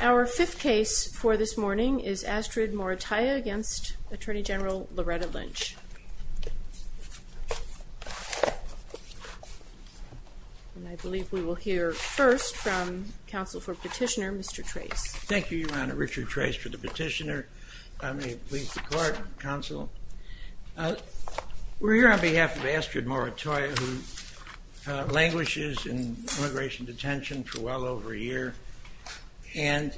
Our fifth case for this morning is Astrid Morataya v. Attorney General Loretta Lynch. I believe we will hear first from counsel for petitioner, Mr. Trace. Thank you, Your Honor. Richard Trace for the petitioner. May it please the Court, Counsel. We're here on behalf of Astrid Morataya who languishes in immigration detention for well over a year and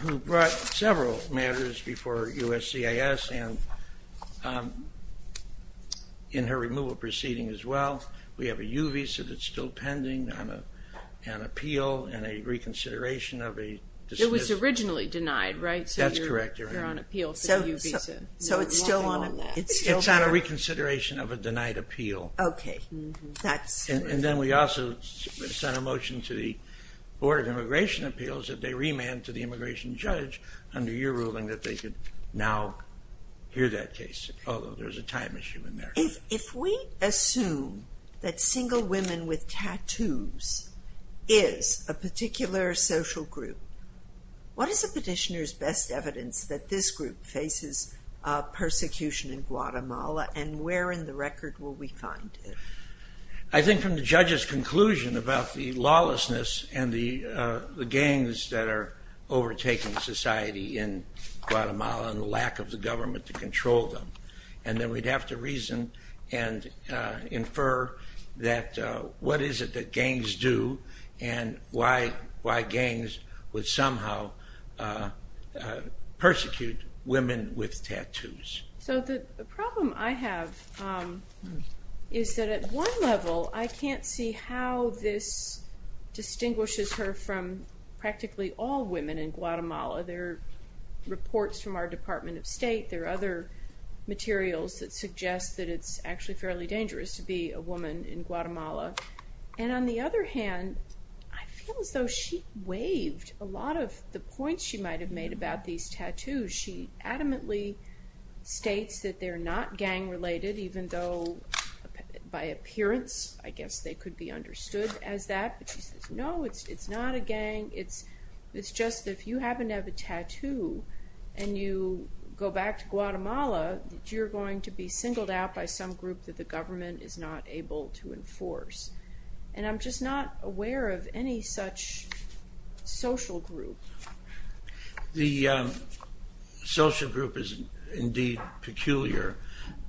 who brought several matters before USCIS and in her removal proceeding as well. We have a U visa that's still pending on appeal and a reconsideration of a dismissal. It was originally denied, right? That's correct, Your Honor. So it's still on that? It's on a reconsideration of a denied appeal. Okay. And then we also sent a motion to the Board of Immigration Appeals that they remand to the immigration judge under your ruling that they could now hear that case, although there's a time issue in there. If we assume that single women with tattoos is a particular social group, what is the petitioner's best evidence that this group faces persecution in Guatemala and where in the record will we find it? I think from the judge's conclusion about the lawlessness and the gangs that are overtaking society in Guatemala and the lack of the government to control them. And then we'd have to reason and infer that what is it that gangs do and why gangs would somehow persecute women with tattoos. So the problem I have is that at one level, I can't see how this distinguishes her from practically all women in Guatemala. There are reports from our Department of State, there are other materials that suggest that it's actually fairly dangerous to be a woman in Guatemala. And on the other hand, I feel as though she waived a lot of the points she might have made about these tattoos. She adamantly states that they're not gang-related, even though by appearance I guess they could be understood as that. But she says, no, it's not a gang. It's just if you happen to have a tattoo and you go back to Guatemala, you're going to be singled out by some group that the government is not able to enforce. And I'm just not aware of any such social group. The social group is indeed peculiar,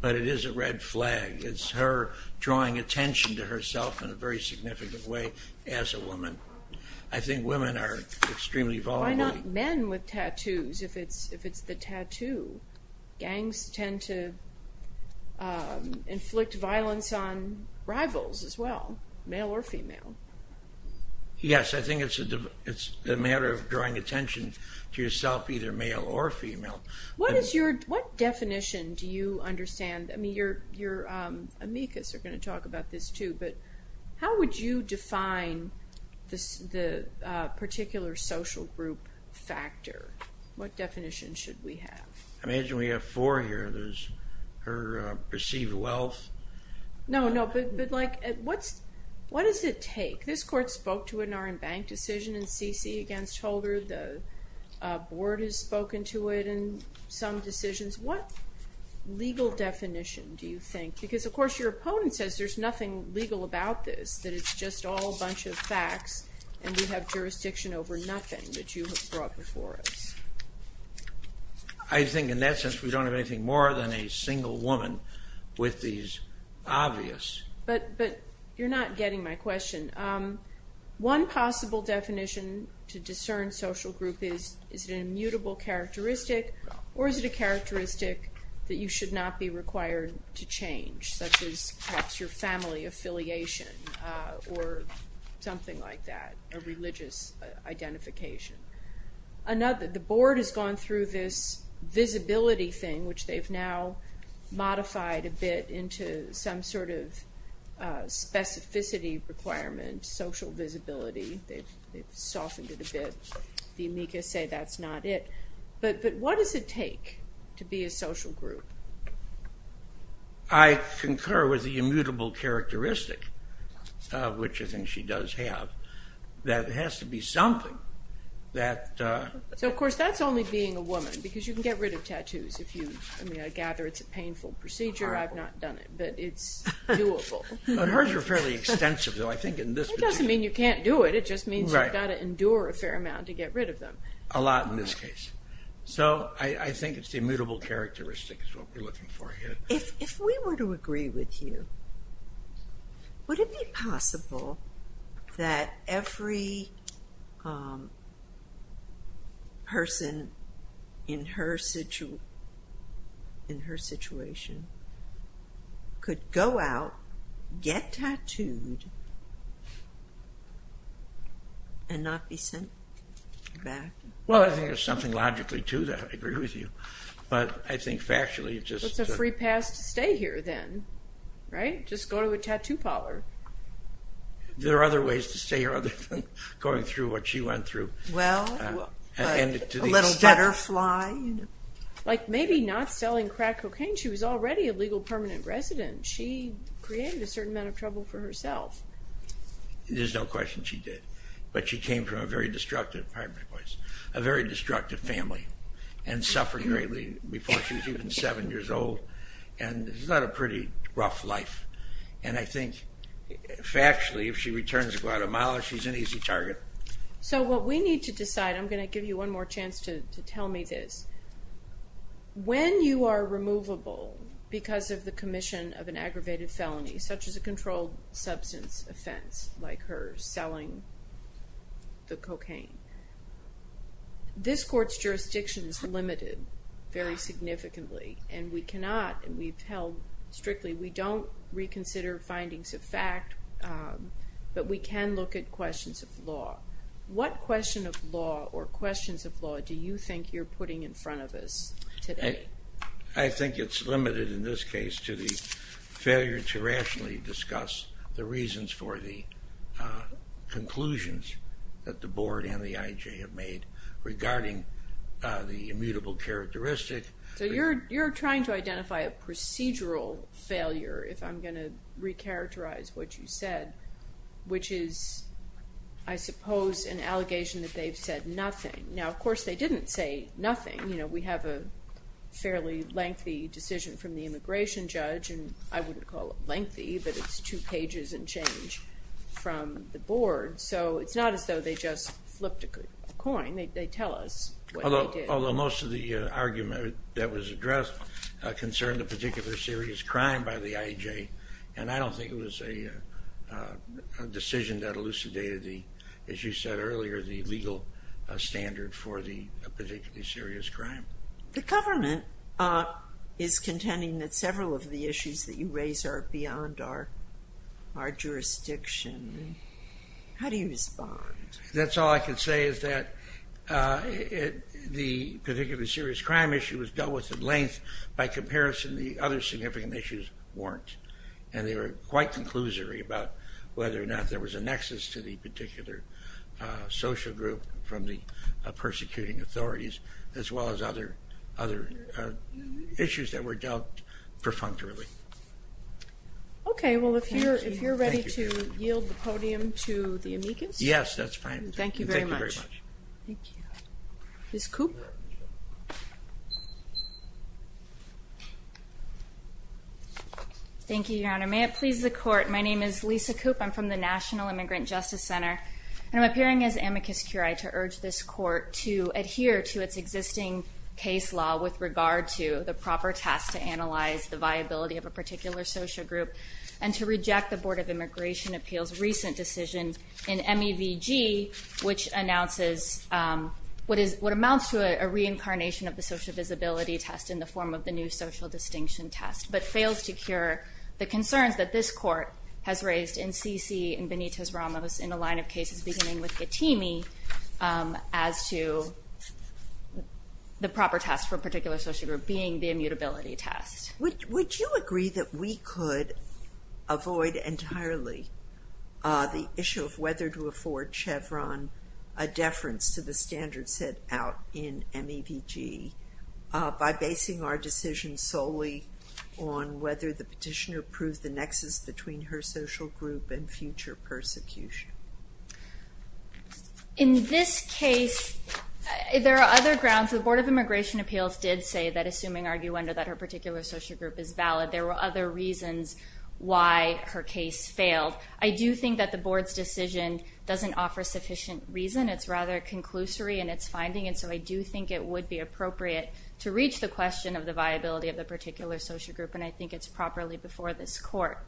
but it is a red flag. It's her drawing attention to herself in a very significant way as a woman. I think women are extremely vulnerable. Why not men with tattoos if it's the tattoo? Gangs tend to inflict violence on rivals as well, male or female. Yes, I think it's a matter of drawing attention to yourself, either male or female. What definition do you understand? Your amicus are going to talk about this too, but how would you define the particular social group factor? What definition should we have? I imagine we have four here. There's her perceived wealth. No, but what does it take? This court spoke to it in our embanked decision in CC against Holder. The board has spoken to it in some decisions. What legal definition do you think? Because, of course, your opponent says there's nothing legal about this, that it's just all a bunch of facts and we have jurisdiction over nothing that you have brought before us. I think in that sense we don't have anything more than a single woman with these obvious. But you're not getting my question. One possible definition to discern social group is is it an immutable characteristic or is it a characteristic that you should not be required to change, such as perhaps your family affiliation or something like that, a religious identification. The board has gone through this visibility thing, which they've now modified a bit into some sort of specificity requirement, social visibility. They've softened it a bit. The amicus say that's not it. But what does it take to be a social group? I concur with the immutable characteristic, which I think she does have, that it has to be something that... So, of course, that's only being a woman because you can get rid of tattoos if you gather it's a painful procedure. I've not done it, but it's doable. Hers are fairly extensive, though. It doesn't mean you can't do it. It just means you've got to endure a fair amount to get rid of them. A lot in this case. So I think it's the immutable characteristic is what we're looking for here. If we were to agree with you, would it be possible that every person in her situation could go out, get tattooed, and not be sent back? Well, I think there's something logically to that. I agree with you. But I think factually it's just... It's a free pass to stay here then, right? Just go to a tattoo parlor. There are other ways to stay here other than going through what she went through. Well, a little butterfly. Like maybe not selling crack cocaine. She was already a legal permanent resident. She created a certain amount of trouble for herself. There's no question she did. But she came from a very destructive family and suffered greatly before she was even seven years old. And it's not a pretty rough life. And I think factually if she returns to Guatemala, she's an easy target. So what we need to decide... I'm going to give you one more chance to tell me this. When you are removable because of the commission of an aggravated felony, such as a controlled substance offense like her selling the cocaine, this court's jurisdiction is limited very significantly. And we cannot, and we've held strictly, we don't reconsider findings of fact, but we can look at questions of law. What question of law or questions of law do you think you're putting in front of us today? I think it's limited in this case to the failure to rationally discuss the reasons for the conclusions that the board and the IJ have made regarding the immutable characteristic. So you're trying to identify a procedural failure, if I'm going to recharacterize what you said, which is, I suppose, an allegation that they've said nothing. Now, of course, they didn't say nothing. We have a fairly lengthy decision from the immigration judge, and I wouldn't call it lengthy, but it's two pages and change from the board. So it's not as though they just flipped a coin. They tell us what they did. Although most of the argument that was addressed concerned a particular serious crime by the IJ, and I don't think it was a decision that elucidated the, as you said earlier, the legal standard for the particularly serious crime. The government is contending that several of the issues that you raise are beyond our jurisdiction. How do you respond? That's all I can say, is that the particularly serious crime issue was dealt with at length. By comparison, the other significant issues weren't, and they were quite conclusory about whether or not there was a nexus to the particular social group from the persecuting authorities, as well as other issues that were dealt perfunctorily. Okay, well, if you're ready to yield the podium to the amicus. Yes, that's fine. Thank you very much. Thank you very much. Thank you. Ms. Koop. Thank you, Your Honor. May it please the court, my name is Lisa Koop. I'm from the National Immigrant Justice Center, and I'm appearing as amicus curiae to urge this court to adhere to its existing case law with regard to the proper test to analyze the viability of a particular social group and to reject the Board of Immigration Appeals' recent decision in MEVG, which announces what amounts to a reincarnation of the social visibility test in the form of the new social distinction test, but fails to cure the concerns that this court has raised in Sisi and Benitez-Ramos in a line of cases beginning with Getimi as to the proper test for a particular social group being the immutability test. Would you agree that we could avoid entirely the issue of whether to afford Chevron a deference to the standards set out in MEVG by basing our decision solely on whether the petitioner proved the nexus between her social group and future persecution? In this case, there are other grounds. The Board of Immigration Appeals did say that assuming arguendo that her particular social group is valid, there were other reasons why her case failed. I do think that the Board's decision doesn't offer sufficient reason. It's rather conclusory in its finding, and so I do think it would be appropriate to reach the question of the viability of the particular social group, and I think it's properly before this court.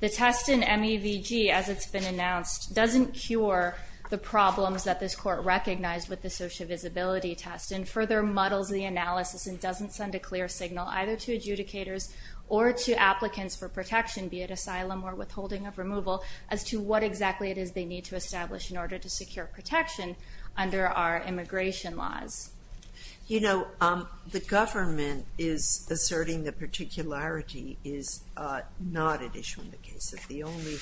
The test in MEVG, as it's been announced, doesn't cure the problems that this court recognized with the social visibility test and further muddles the analysis and doesn't send a clear signal either to adjudicators or to applicants for protection, be it asylum or withholding of removal, as to what exactly it is they need to establish in order to secure protection under our immigration laws. You know, the government is asserting that particularity is not an issue in the case. That the only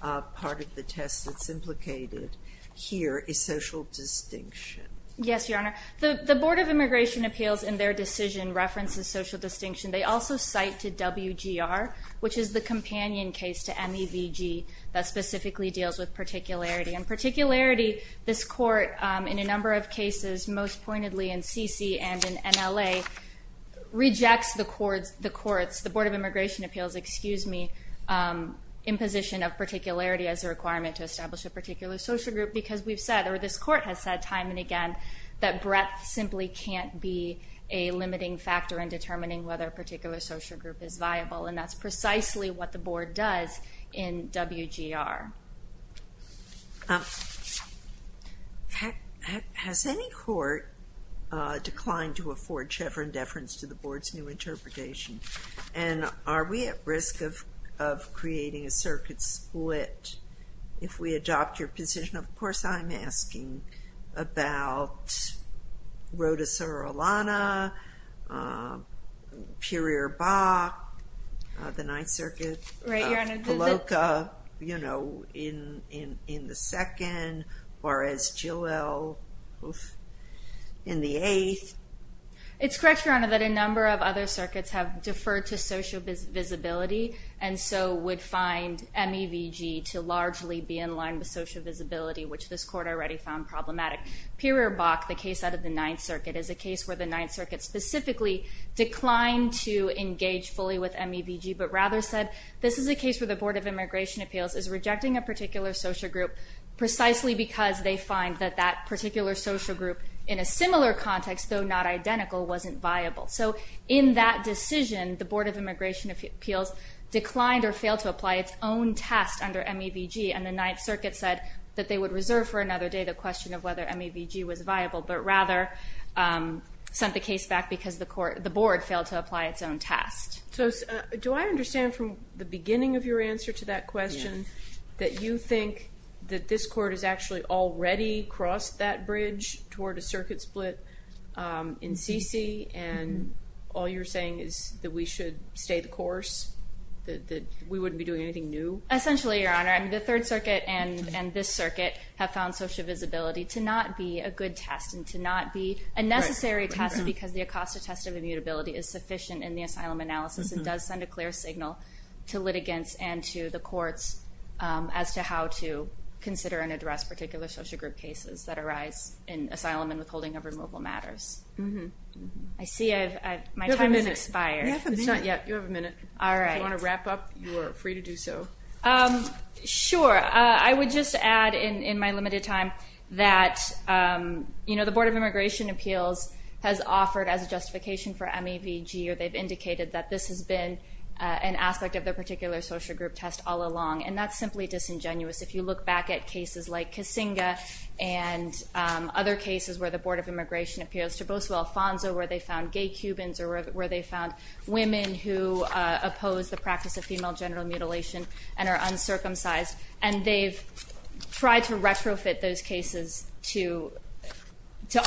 part of the test that's implicated here is social distinction. Yes, Your Honor. The Board of Immigration Appeals, in their decision, references social distinction. They also cite to WGR, which is the companion case to MEVG, that specifically deals with particularity. And particularity, this court, in a number of cases, most pointedly in CC and in MLA, rejects the courts, the Board of Immigration Appeals, excuse me, imposition of particularity as a requirement to establish a particular social group because we've said, or this court has said, time and again, that breadth simply can't be a limiting factor in determining whether a particular social group is viable. And that's precisely what the board does in WGR. Has any court declined to afford Chevron deference to the board's new interpretation? And are we at risk of creating a circuit split if we adopt your position? Of course, I'm asking about Roda Surulana, Puryear-Bach, the Ninth Circuit. Right, Your Honor. Poloca, you know, in the second, Juarez-Joel, in the eighth. It's correct, Your Honor, that a number of other circuits have deferred to social visibility, and so would find MEVG to largely be in line with social visibility, which this court already found problematic. Puryear-Bach, the case out of the Ninth Circuit, is a case where the Ninth Circuit specifically declined to engage fully with MEVG, but rather said, this is a case where the Board of Immigration Appeals is rejecting a particular social group precisely because they find that that particular social group, in a similar context, though not identical, wasn't viable. So, in that decision, the Board of Immigration Appeals declined or failed to apply its own test under MEVG, and the Ninth Circuit said that they would reserve for another day the question of whether MEVG was viable, but rather sent the case back because the Board failed to apply its own test. So, do I understand from the beginning of your answer to that question that you think that this court has actually already crossed that bridge toward a circuit split in CC, and all you're saying is that we should stay the course, that we wouldn't be doing anything new? Essentially, Your Honor, the Third Circuit and this circuit have found social visibility to not be a good test and to not be a necessary test because the ACOSTA test of immutability is sufficient in the asylum analysis and does send a clear signal to litigants and to the courts as to how to consider and address particular social group cases that arise in asylum and withholding of removal matters. I see my time has expired. You have a minute. It's not yet. You have a minute. If you want to wrap up, you are free to do so. Sure. I would just add in my limited time that the Board of Immigration Appeals has offered as a justification for MEVG or they've indicated that this has been an aspect of their particular social group test all along and that's simply disingenuous. If you look back at cases like Kasinga and other cases where the Board of Immigration Appeals to Boso Alfonso where they found gay Cubans or where they found women who oppose the practice of female genital mutilation and are uncircumcised and they've tried to retrofit those cases to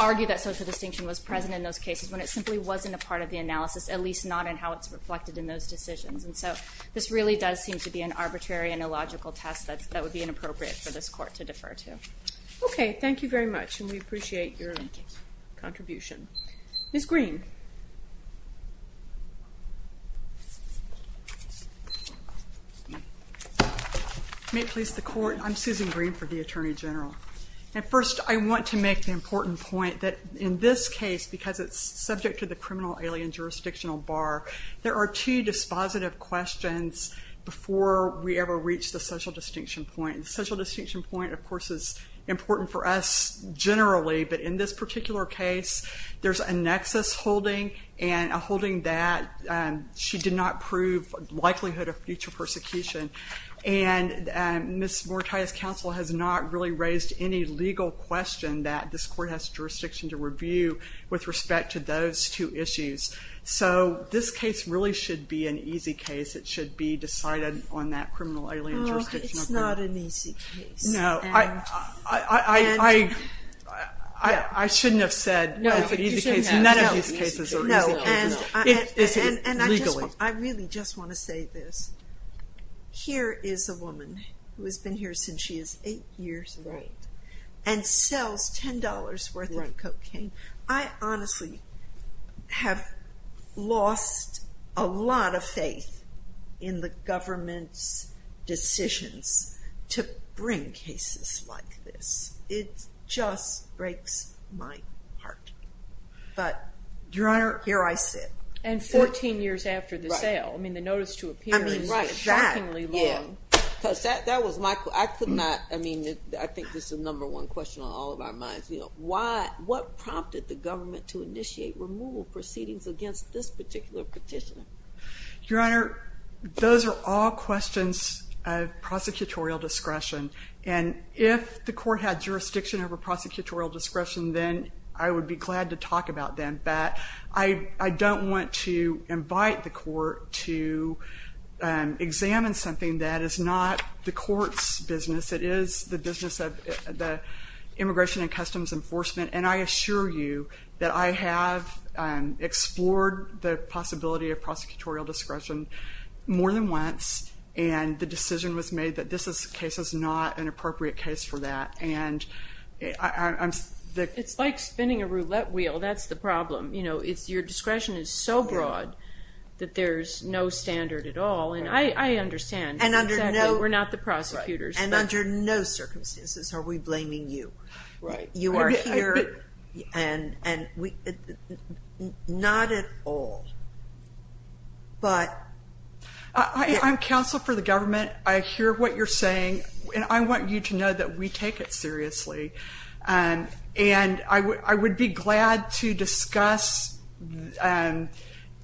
argue that social distinction was present in those cases when it simply wasn't a part of the analysis at least not in how it's reflected in those decisions. And so this really does seem to be an arbitrary and illogical test that would be inappropriate for this court to defer to. Okay. Thank you very much and we appreciate your contribution. Ms. Green. May it please the court. I'm Susan Green for the Attorney General. And first I want to make the important point that in this case because it's subject to the criminal alien jurisdictional bar there are two dispositive questions before we ever reach the social distinction point. The social distinction point of course is important for us generally. But in this particular case there's a nexus holding and a holding that she did not prove likelihood of future persecution. And Ms. Morataya's counsel has not really raised any legal question that this court has jurisdiction to review with respect to those two issues. So this case really should be an easy case. It should be decided on that criminal alien jurisdictional bar. It's not an easy case. No. I shouldn't have said it's an easy case. None of these cases are easy cases. And I really just want to say this. Here is a woman who has been here since she was eight years old and sells $10 worth of cocaine. I honestly have lost a lot of faith in the government's decisions to bring cases like this. It just breaks my heart. But Your Honor, here I sit. And 14 years after the sale. I mean the notice to appear is shockingly long. Because that was my, I could not, I mean, I think this is the number one question on all of our minds. Why, what prompted the government to initiate removal proceedings against this particular petition? Your Honor, those are all questions of prosecutorial discretion. And if the court had jurisdiction over prosecutorial discretion, then I would be glad to talk about them. But I don't want to invite the court to examine something that is not the court's business. It is the business of the Immigration and Customs Enforcement. And I assure you that I have explored the possibility of prosecutorial discretion more than once. And the decision was made that this case is not an appropriate case for that. And I'm... It's like spinning a roulette wheel. That's the problem. You know, it's your discretion is so broad that there's no standard at all. And I understand. And under no... We're not the prosecutors. And under no circumstances are we blaming you. Right. You are here. And we... Not at all. But... I'm counsel for the government. I hear what you're saying. And I want you to know that we take it seriously. And I would be glad to discuss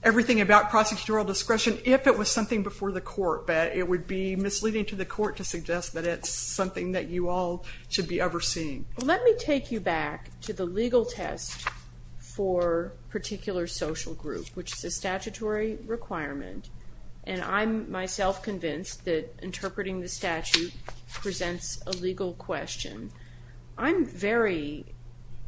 everything about prosecutorial discretion if it was something before the court. But it would be misleading to the court to suggest that it's something that you all should be overseeing. Well, let me take you back to the legal test for a particular social group, which is a statutory requirement. And I'm myself convinced that interpreting the statute presents a legal question. I'm very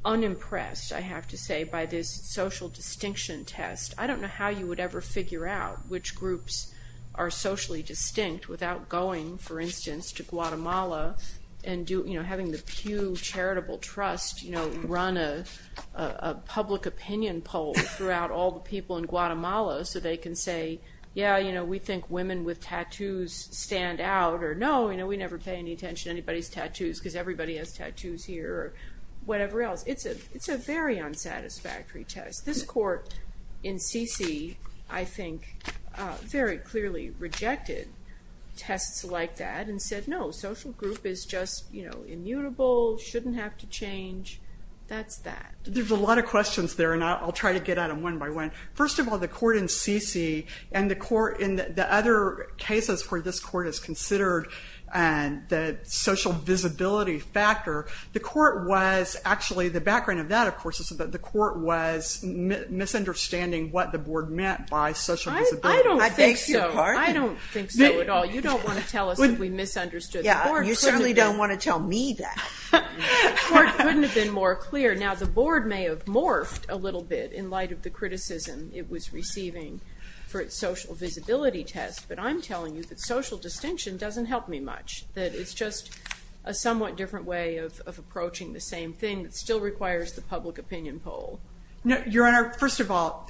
unimpressed, I have to say, by this social distinction test. I don't know how you would ever figure out which groups are socially distinct without going, for instance, to Guatemala and having the Pew Charitable Trust run a public opinion poll throughout all the people in Guatemala so they can say, yeah, you know, we think women with tattoos stand out, or no, you know, we never pay any attention to anybody's tattoos because everybody has tattoos here, or whatever else. It's a very unsatisfactory test. This court in Sisi, I think, very clearly rejected tests like that and said, no, social group is just, you know, immutable, shouldn't have to change. That's that. There's a lot of questions there, and I'll try to get at them one by one. First of all, the court in Sisi and the court in the other cases where this court is considered the social visibility factor, the court was, actually, the background of that, of course, is that the court was misunderstanding what the board meant by social visibility. I don't think so. I don't think so at all. You don't want to tell us that we misunderstood. Yeah, you certainly don't want to tell me that. The court couldn't have been more clear. Now, the board may have morphed a little bit in light of the criticism it was receiving for its social visibility test, but I'm telling you that social distinction doesn't help me much, that it's just a somewhat different way of approaching the same thing that still requires the public opinion poll. Your Honor, first of all,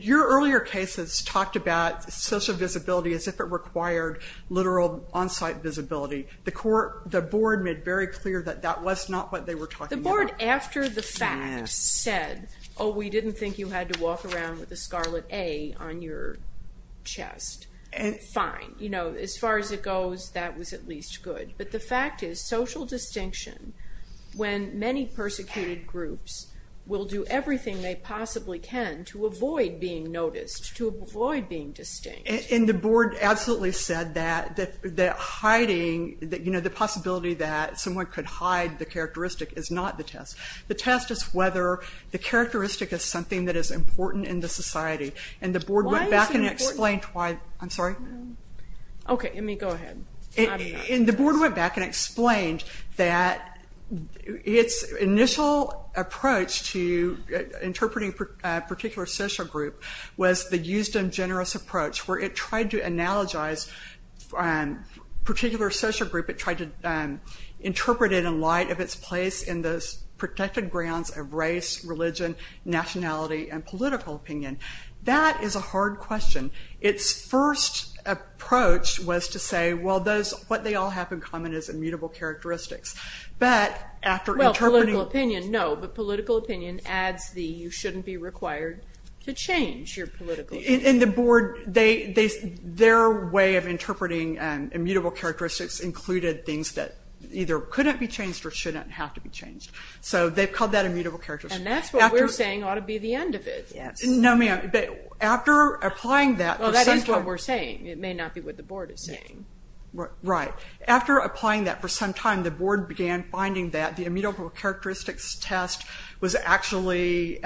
your earlier cases talked about social visibility as if it required literal on-site visibility. The board made very clear that that was not what they were talking about. The board, after the fact, said, oh, we didn't think you had to walk around with a Scarlet A on your chest. Fine. You know, as far as it goes, that was at least good. But the fact is, social distinction, when many persecuted groups will do everything they possibly can to avoid being noticed, to avoid being distinct. And the board absolutely said that hiding, you know, the possibility that someone could hide the characteristic is not the test. The test is whether the characteristic is something that is important in the society. And the board went back and explained why, I'm sorry. Okay, let me go ahead. And the board went back and explained that its initial approach to interpreting a particular social group was the use of generous approach, where it tried to analogize a particular social group. It tried to interpret it in light of its place in those protected grounds of race, religion, nationality, and political opinion. That is a hard question. Its first approach was to say, well, what they all have in common is immutable characteristics. But after interpreting... Well, political opinion, no, but political opinion adds the you shouldn't be required to change your political opinion. And the board, their way of interpreting immutable characteristics included things that either couldn't be changed or shouldn't have to be changed. So they've called that immutable characteristics. And that's what we're saying ought to be the end of it. Yes. No, ma'am. After applying that... Well, that is what we're saying. It may not be what the board is saying. Right. After applying that for some time, the board began finding that the immutable characteristics test was actually...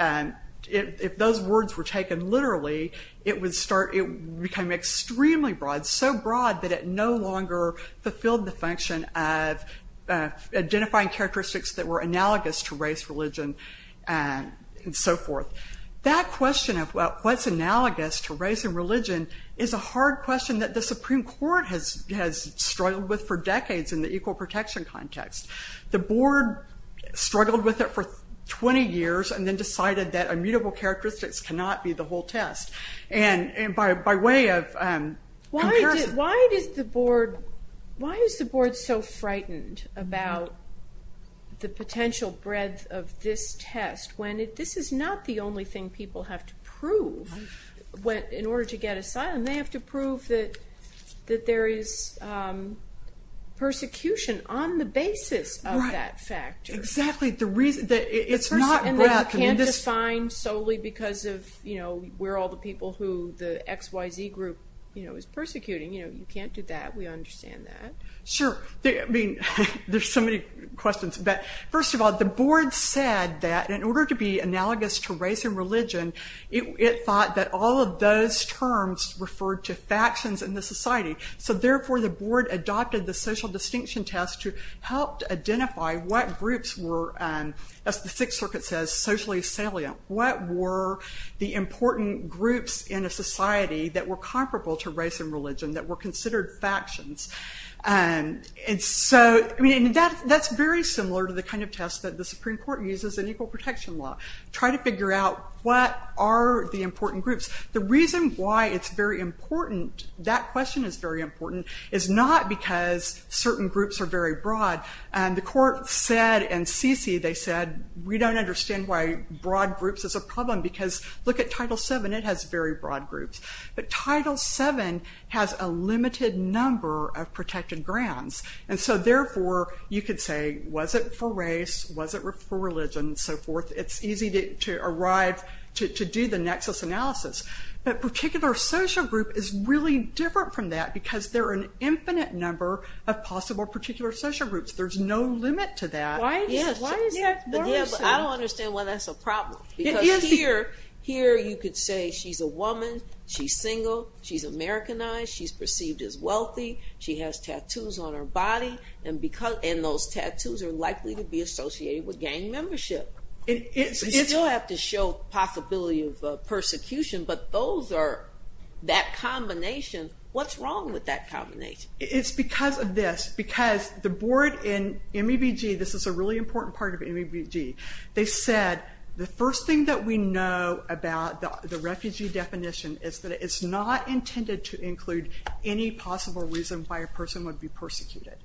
If those words were taken literally, it would start... It became extremely broad, so broad, that it no longer fulfilled the function of identifying characteristics that were analogous to race, religion, and so forth. That question of what's analogous to race and religion is a hard question that the Supreme Court has struggled with for decades in the equal protection context. The board struggled with it for 20 years and then decided that immutable characteristics cannot be the whole test. And by way of comparison... Why is the board so frightened about the potential breadth of this test when this is not the only thing people have to prove in order to get asylum? They have to prove that there is persecution on the basis of that factor. Exactly. It's not breadth. And you can't define solely because of we're all the people who the XYZ group is persecuting. You can't do that. We understand that. Sure. I mean, there's so many questions. But first of all, the board said that in order to be analogous to race and religion, it thought that all of those terms referred to factions in the society. So therefore, the board adopted the social distinction test to help identify what groups were, as the Sixth Circuit says, socially salient. What were the important groups in a society that were comparable to race and religion, that were considered factions? And so, I mean, that's very similar to the kind of test that the Supreme Court uses in equal protection law. Try to figure out what are the important groups. The reason why it's very important, that question is very important, is not because certain groups are very broad. The court said and CC, they said, we don't understand why broad groups is a problem because look at Title VII. It has very broad groups. But Title VII has a limited number of protected grounds. And so, therefore, you could say, was it for race? Was it for religion? And so forth. It's easy to arrive to do the nexus analysis. But particular social group is really different from that because there are an infinite number of possible particular social groups. There's no limit to that. Why is that? Yeah, but I don't understand why that's a problem. Because here, you could say she's a woman. She's single. She's Americanized. She's perceived as wealthy. She has tattoos on her body. And those tattoos are likely to be associated with gang membership. You still have to show possibility of persecution. But those are that combination. What's wrong with that combination? It's because of this. Because the board in MEBG, this is a really important part of MEBG. They said, the first thing that we know about the refugee definition is that it's not intended to include any possible reason why a person would be persecuted.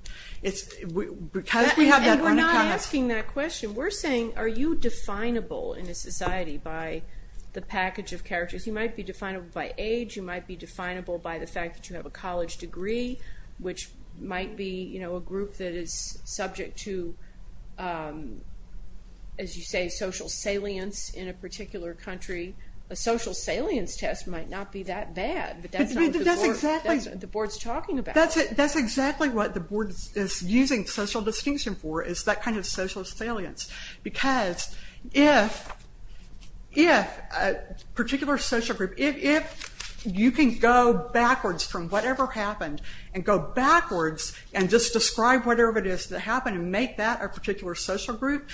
under-comment... And we're not asking that question. We're saying, are you definable in a society by the package of characters? You might be definable by age. You might be definable by the fact that you have a college degree, which might be a group that is subject to, as you say, social salience in a particular country. A social salience test might not be that bad. But that's not what the board is talking about. That's exactly what the board is using social distinction for. It's that kind of social salience. Because if a particular social group, if you can go backwards from whatever happened and go backwards and just describe whatever it is that happened and make that a particular social group,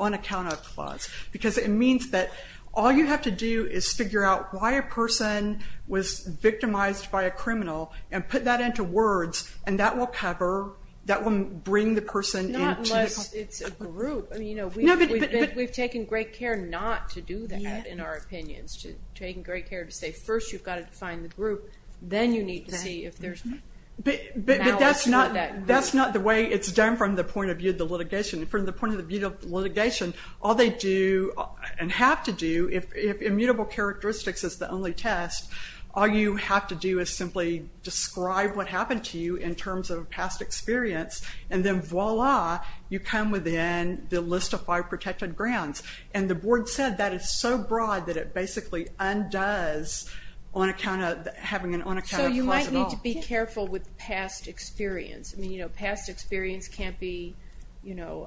unaccounted-of clause. Because it means that all you have to do is figure out why a person would be persecuted. And that's exactly what the board is using to say that a person was victimized by a criminal and put that into words and that will cover, that will bring the person into... Not unless it's a group. We've taken great care not to do that in our opinions. Taken great care to say first you've got to define the group, then you need to see if there's... But that's not the way it's done from the point of view of the litigation. From the point of view of the litigation, all they do and have to do if immutable characteristics is the only test, all you have to do is simply describe what happened to you in terms of past experience and then voila, you come within the list of five protected grounds. And the board said that is so broad that it basically undoes on account of having an unaccounted-of clause at all. So you might need to be careful with past experience. Past experience can't be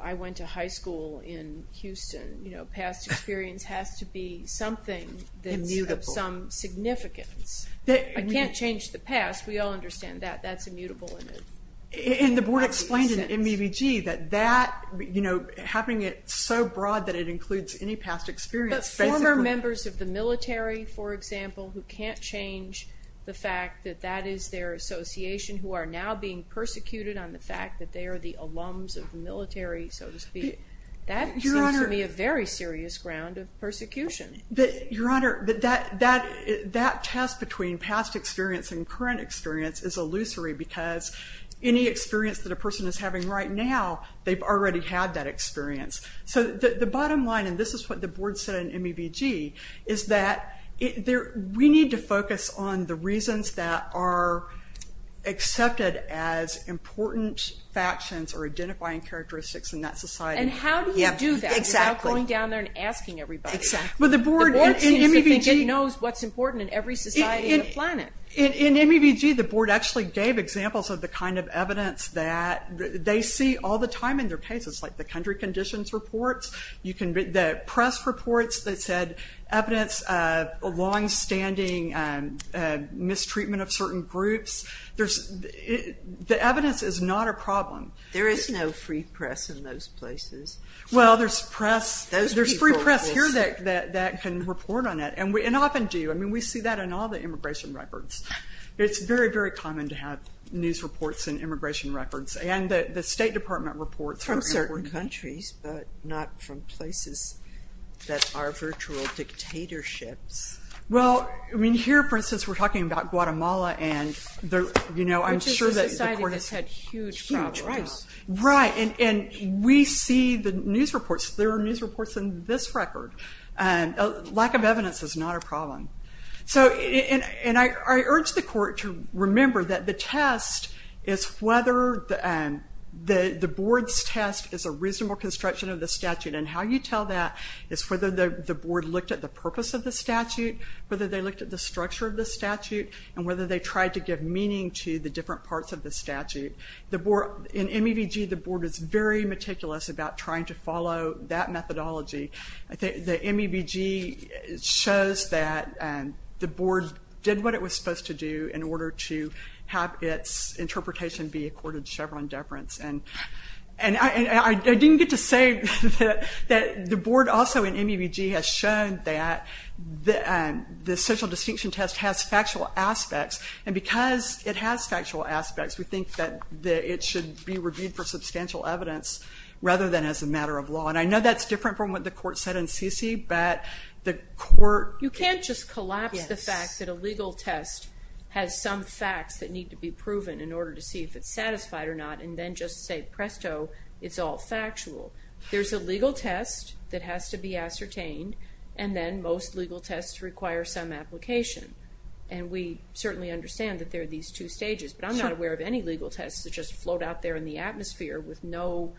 I went to high school in Houston. Past experience has to be something that's... has to have some significance. I can't change the past. We all understand that. That's immutable. And the board explained in MBBG that that, you know, having it so broad that it includes any past experience... But former members of the military, for example, who can't change the fact that that is their association who are now being persecuted on the fact that they are the alums of the military, so to speak, that seems to me a very serious ground of persecution. Your Honor, that test between past experience and current experience is illusory because any experience that a person is having right now, they've already had that experience. So the bottom line, and this is what the board said in MBBG, is that we need to focus on the reasons that are accepted as important factions or identifying characteristics in that society. And how do you do that? Exactly. Without going down there and asking everybody. Well, the board in MBBG knows what's important in every society on the planet. In MBBG, the board actually gave examples of the kind of evidence that they see all the time in their cases, like the country conditions reports, the press reports that said evidence of long-standing The evidence is not a problem. There is no free press in those places. Well, there's free press here that gives you the information that you need to know that can report on that. And often do. We see that in all the immigration records. It's very, very common to have news reports in immigration records. And the State Department reports from certain countries, but not from places that are virtual dictatorships. here, for instance, we're talking about Guatemala, and I'm sure that the court has had huge problems. Which is a society that's had huge problems. Right. And we see the news reports. There are news reports in this record. Lack of evidence is not a problem. So, and I urge the court to remember that the test is whether the board's test is a reasonable construction of the statute. And how you tell that is whether the board looked at the purpose of the statute, whether they looked at the structure of the statute, and whether they tried to give meaning to the different parts of the statute. In MEVG, the board is very meticulous about trying to follow that methodology. The MEVG shows that the board did what it was supposed to do in order to have its interpretation be accorded Chevron deference. And I didn't get to say that the board also in MEVG has shown that the social distinction test has factual aspects. And because it has factual aspects, we think that it should be reviewed for substantial evidence rather than as a matter of law. And I know that's different from what the court said in CC, but the court... You can't just collapse the fact that a legal test has some facts that need to be proven in order to see if it's satisfied or not and then just say presto, it's all factual. There's a legal test that has to be ascertained, and then most legal tests require some application. And we certainly understand that there are these two stages. But I'm not aware of any legal tests that just float out there in the atmosphere with no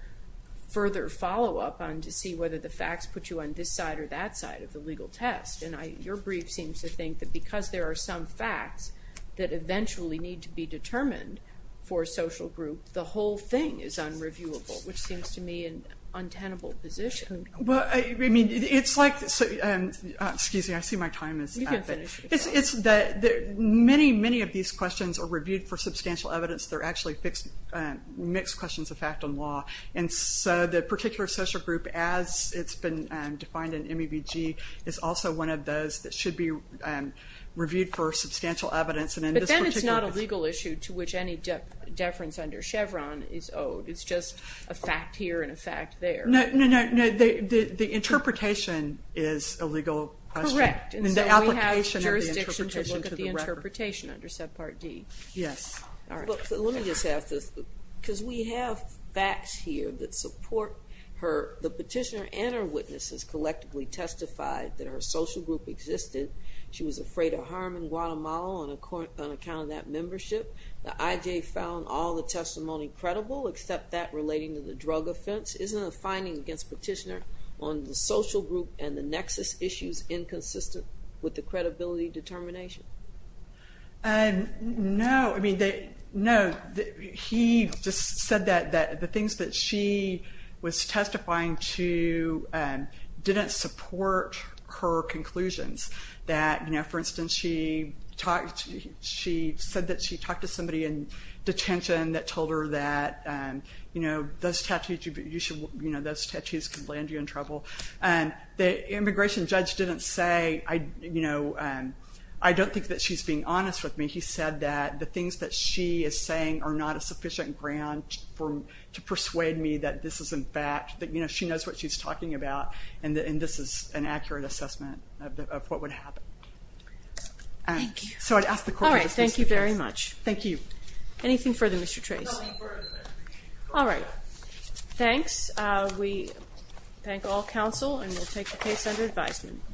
further follow-up on to see whether the facts put you on this side or that side of the legal test. And your brief seems to think that because there are some facts that eventually need to be determined for a social group, the whole thing is unreviewable, which seems to me an untenable position. Well, I mean, it's like... Excuse me, I see my time is out. You can finish. Many, many of these questions are reviewed for substantial evidence. They're actually mixed questions of fact and law. And so the particular social group as it's been defined in MEVG is also one of those that should be reviewed for substantial evidence. But then it's not a legal issue to which any deference under Chevron is owed. It's just a fact here and a fact there. No, no, no. The interpretation is a legal question. Correct. And so we have jurisdiction to look at the interpretation under subpart D. Yes. Let me just ask this. Because we have facts here that support her... The petitioner and her witnesses collectively testified that her social group existed. She was afraid of harm in Guatemala on account of that membership. The IJ found all the testimony credible except that relating to the drug offense. Isn't a finding against petitioner on the social group and the nexus issues inconsistent with the credibility determination? No. I mean, no. He just said that the things that she was testifying to didn't support her conclusions. That, you know, for instance, she said that she talked to somebody in detention that told her that, you know, those tattoos could land you in trouble. The immigration judge didn't say, you know, I don't think that she's being honest with me. He said that the things that she is saying are not a sufficient ground to persuade me that this is, in fact, that, you know, she knows what she's talking about and this is an accurate assessment of what would happen. Thank you. All right. Thank you very much. Thank you. Anything further, Mr. Trace? All right. Thanks. We thank all counsel and we'll take the case under advisement.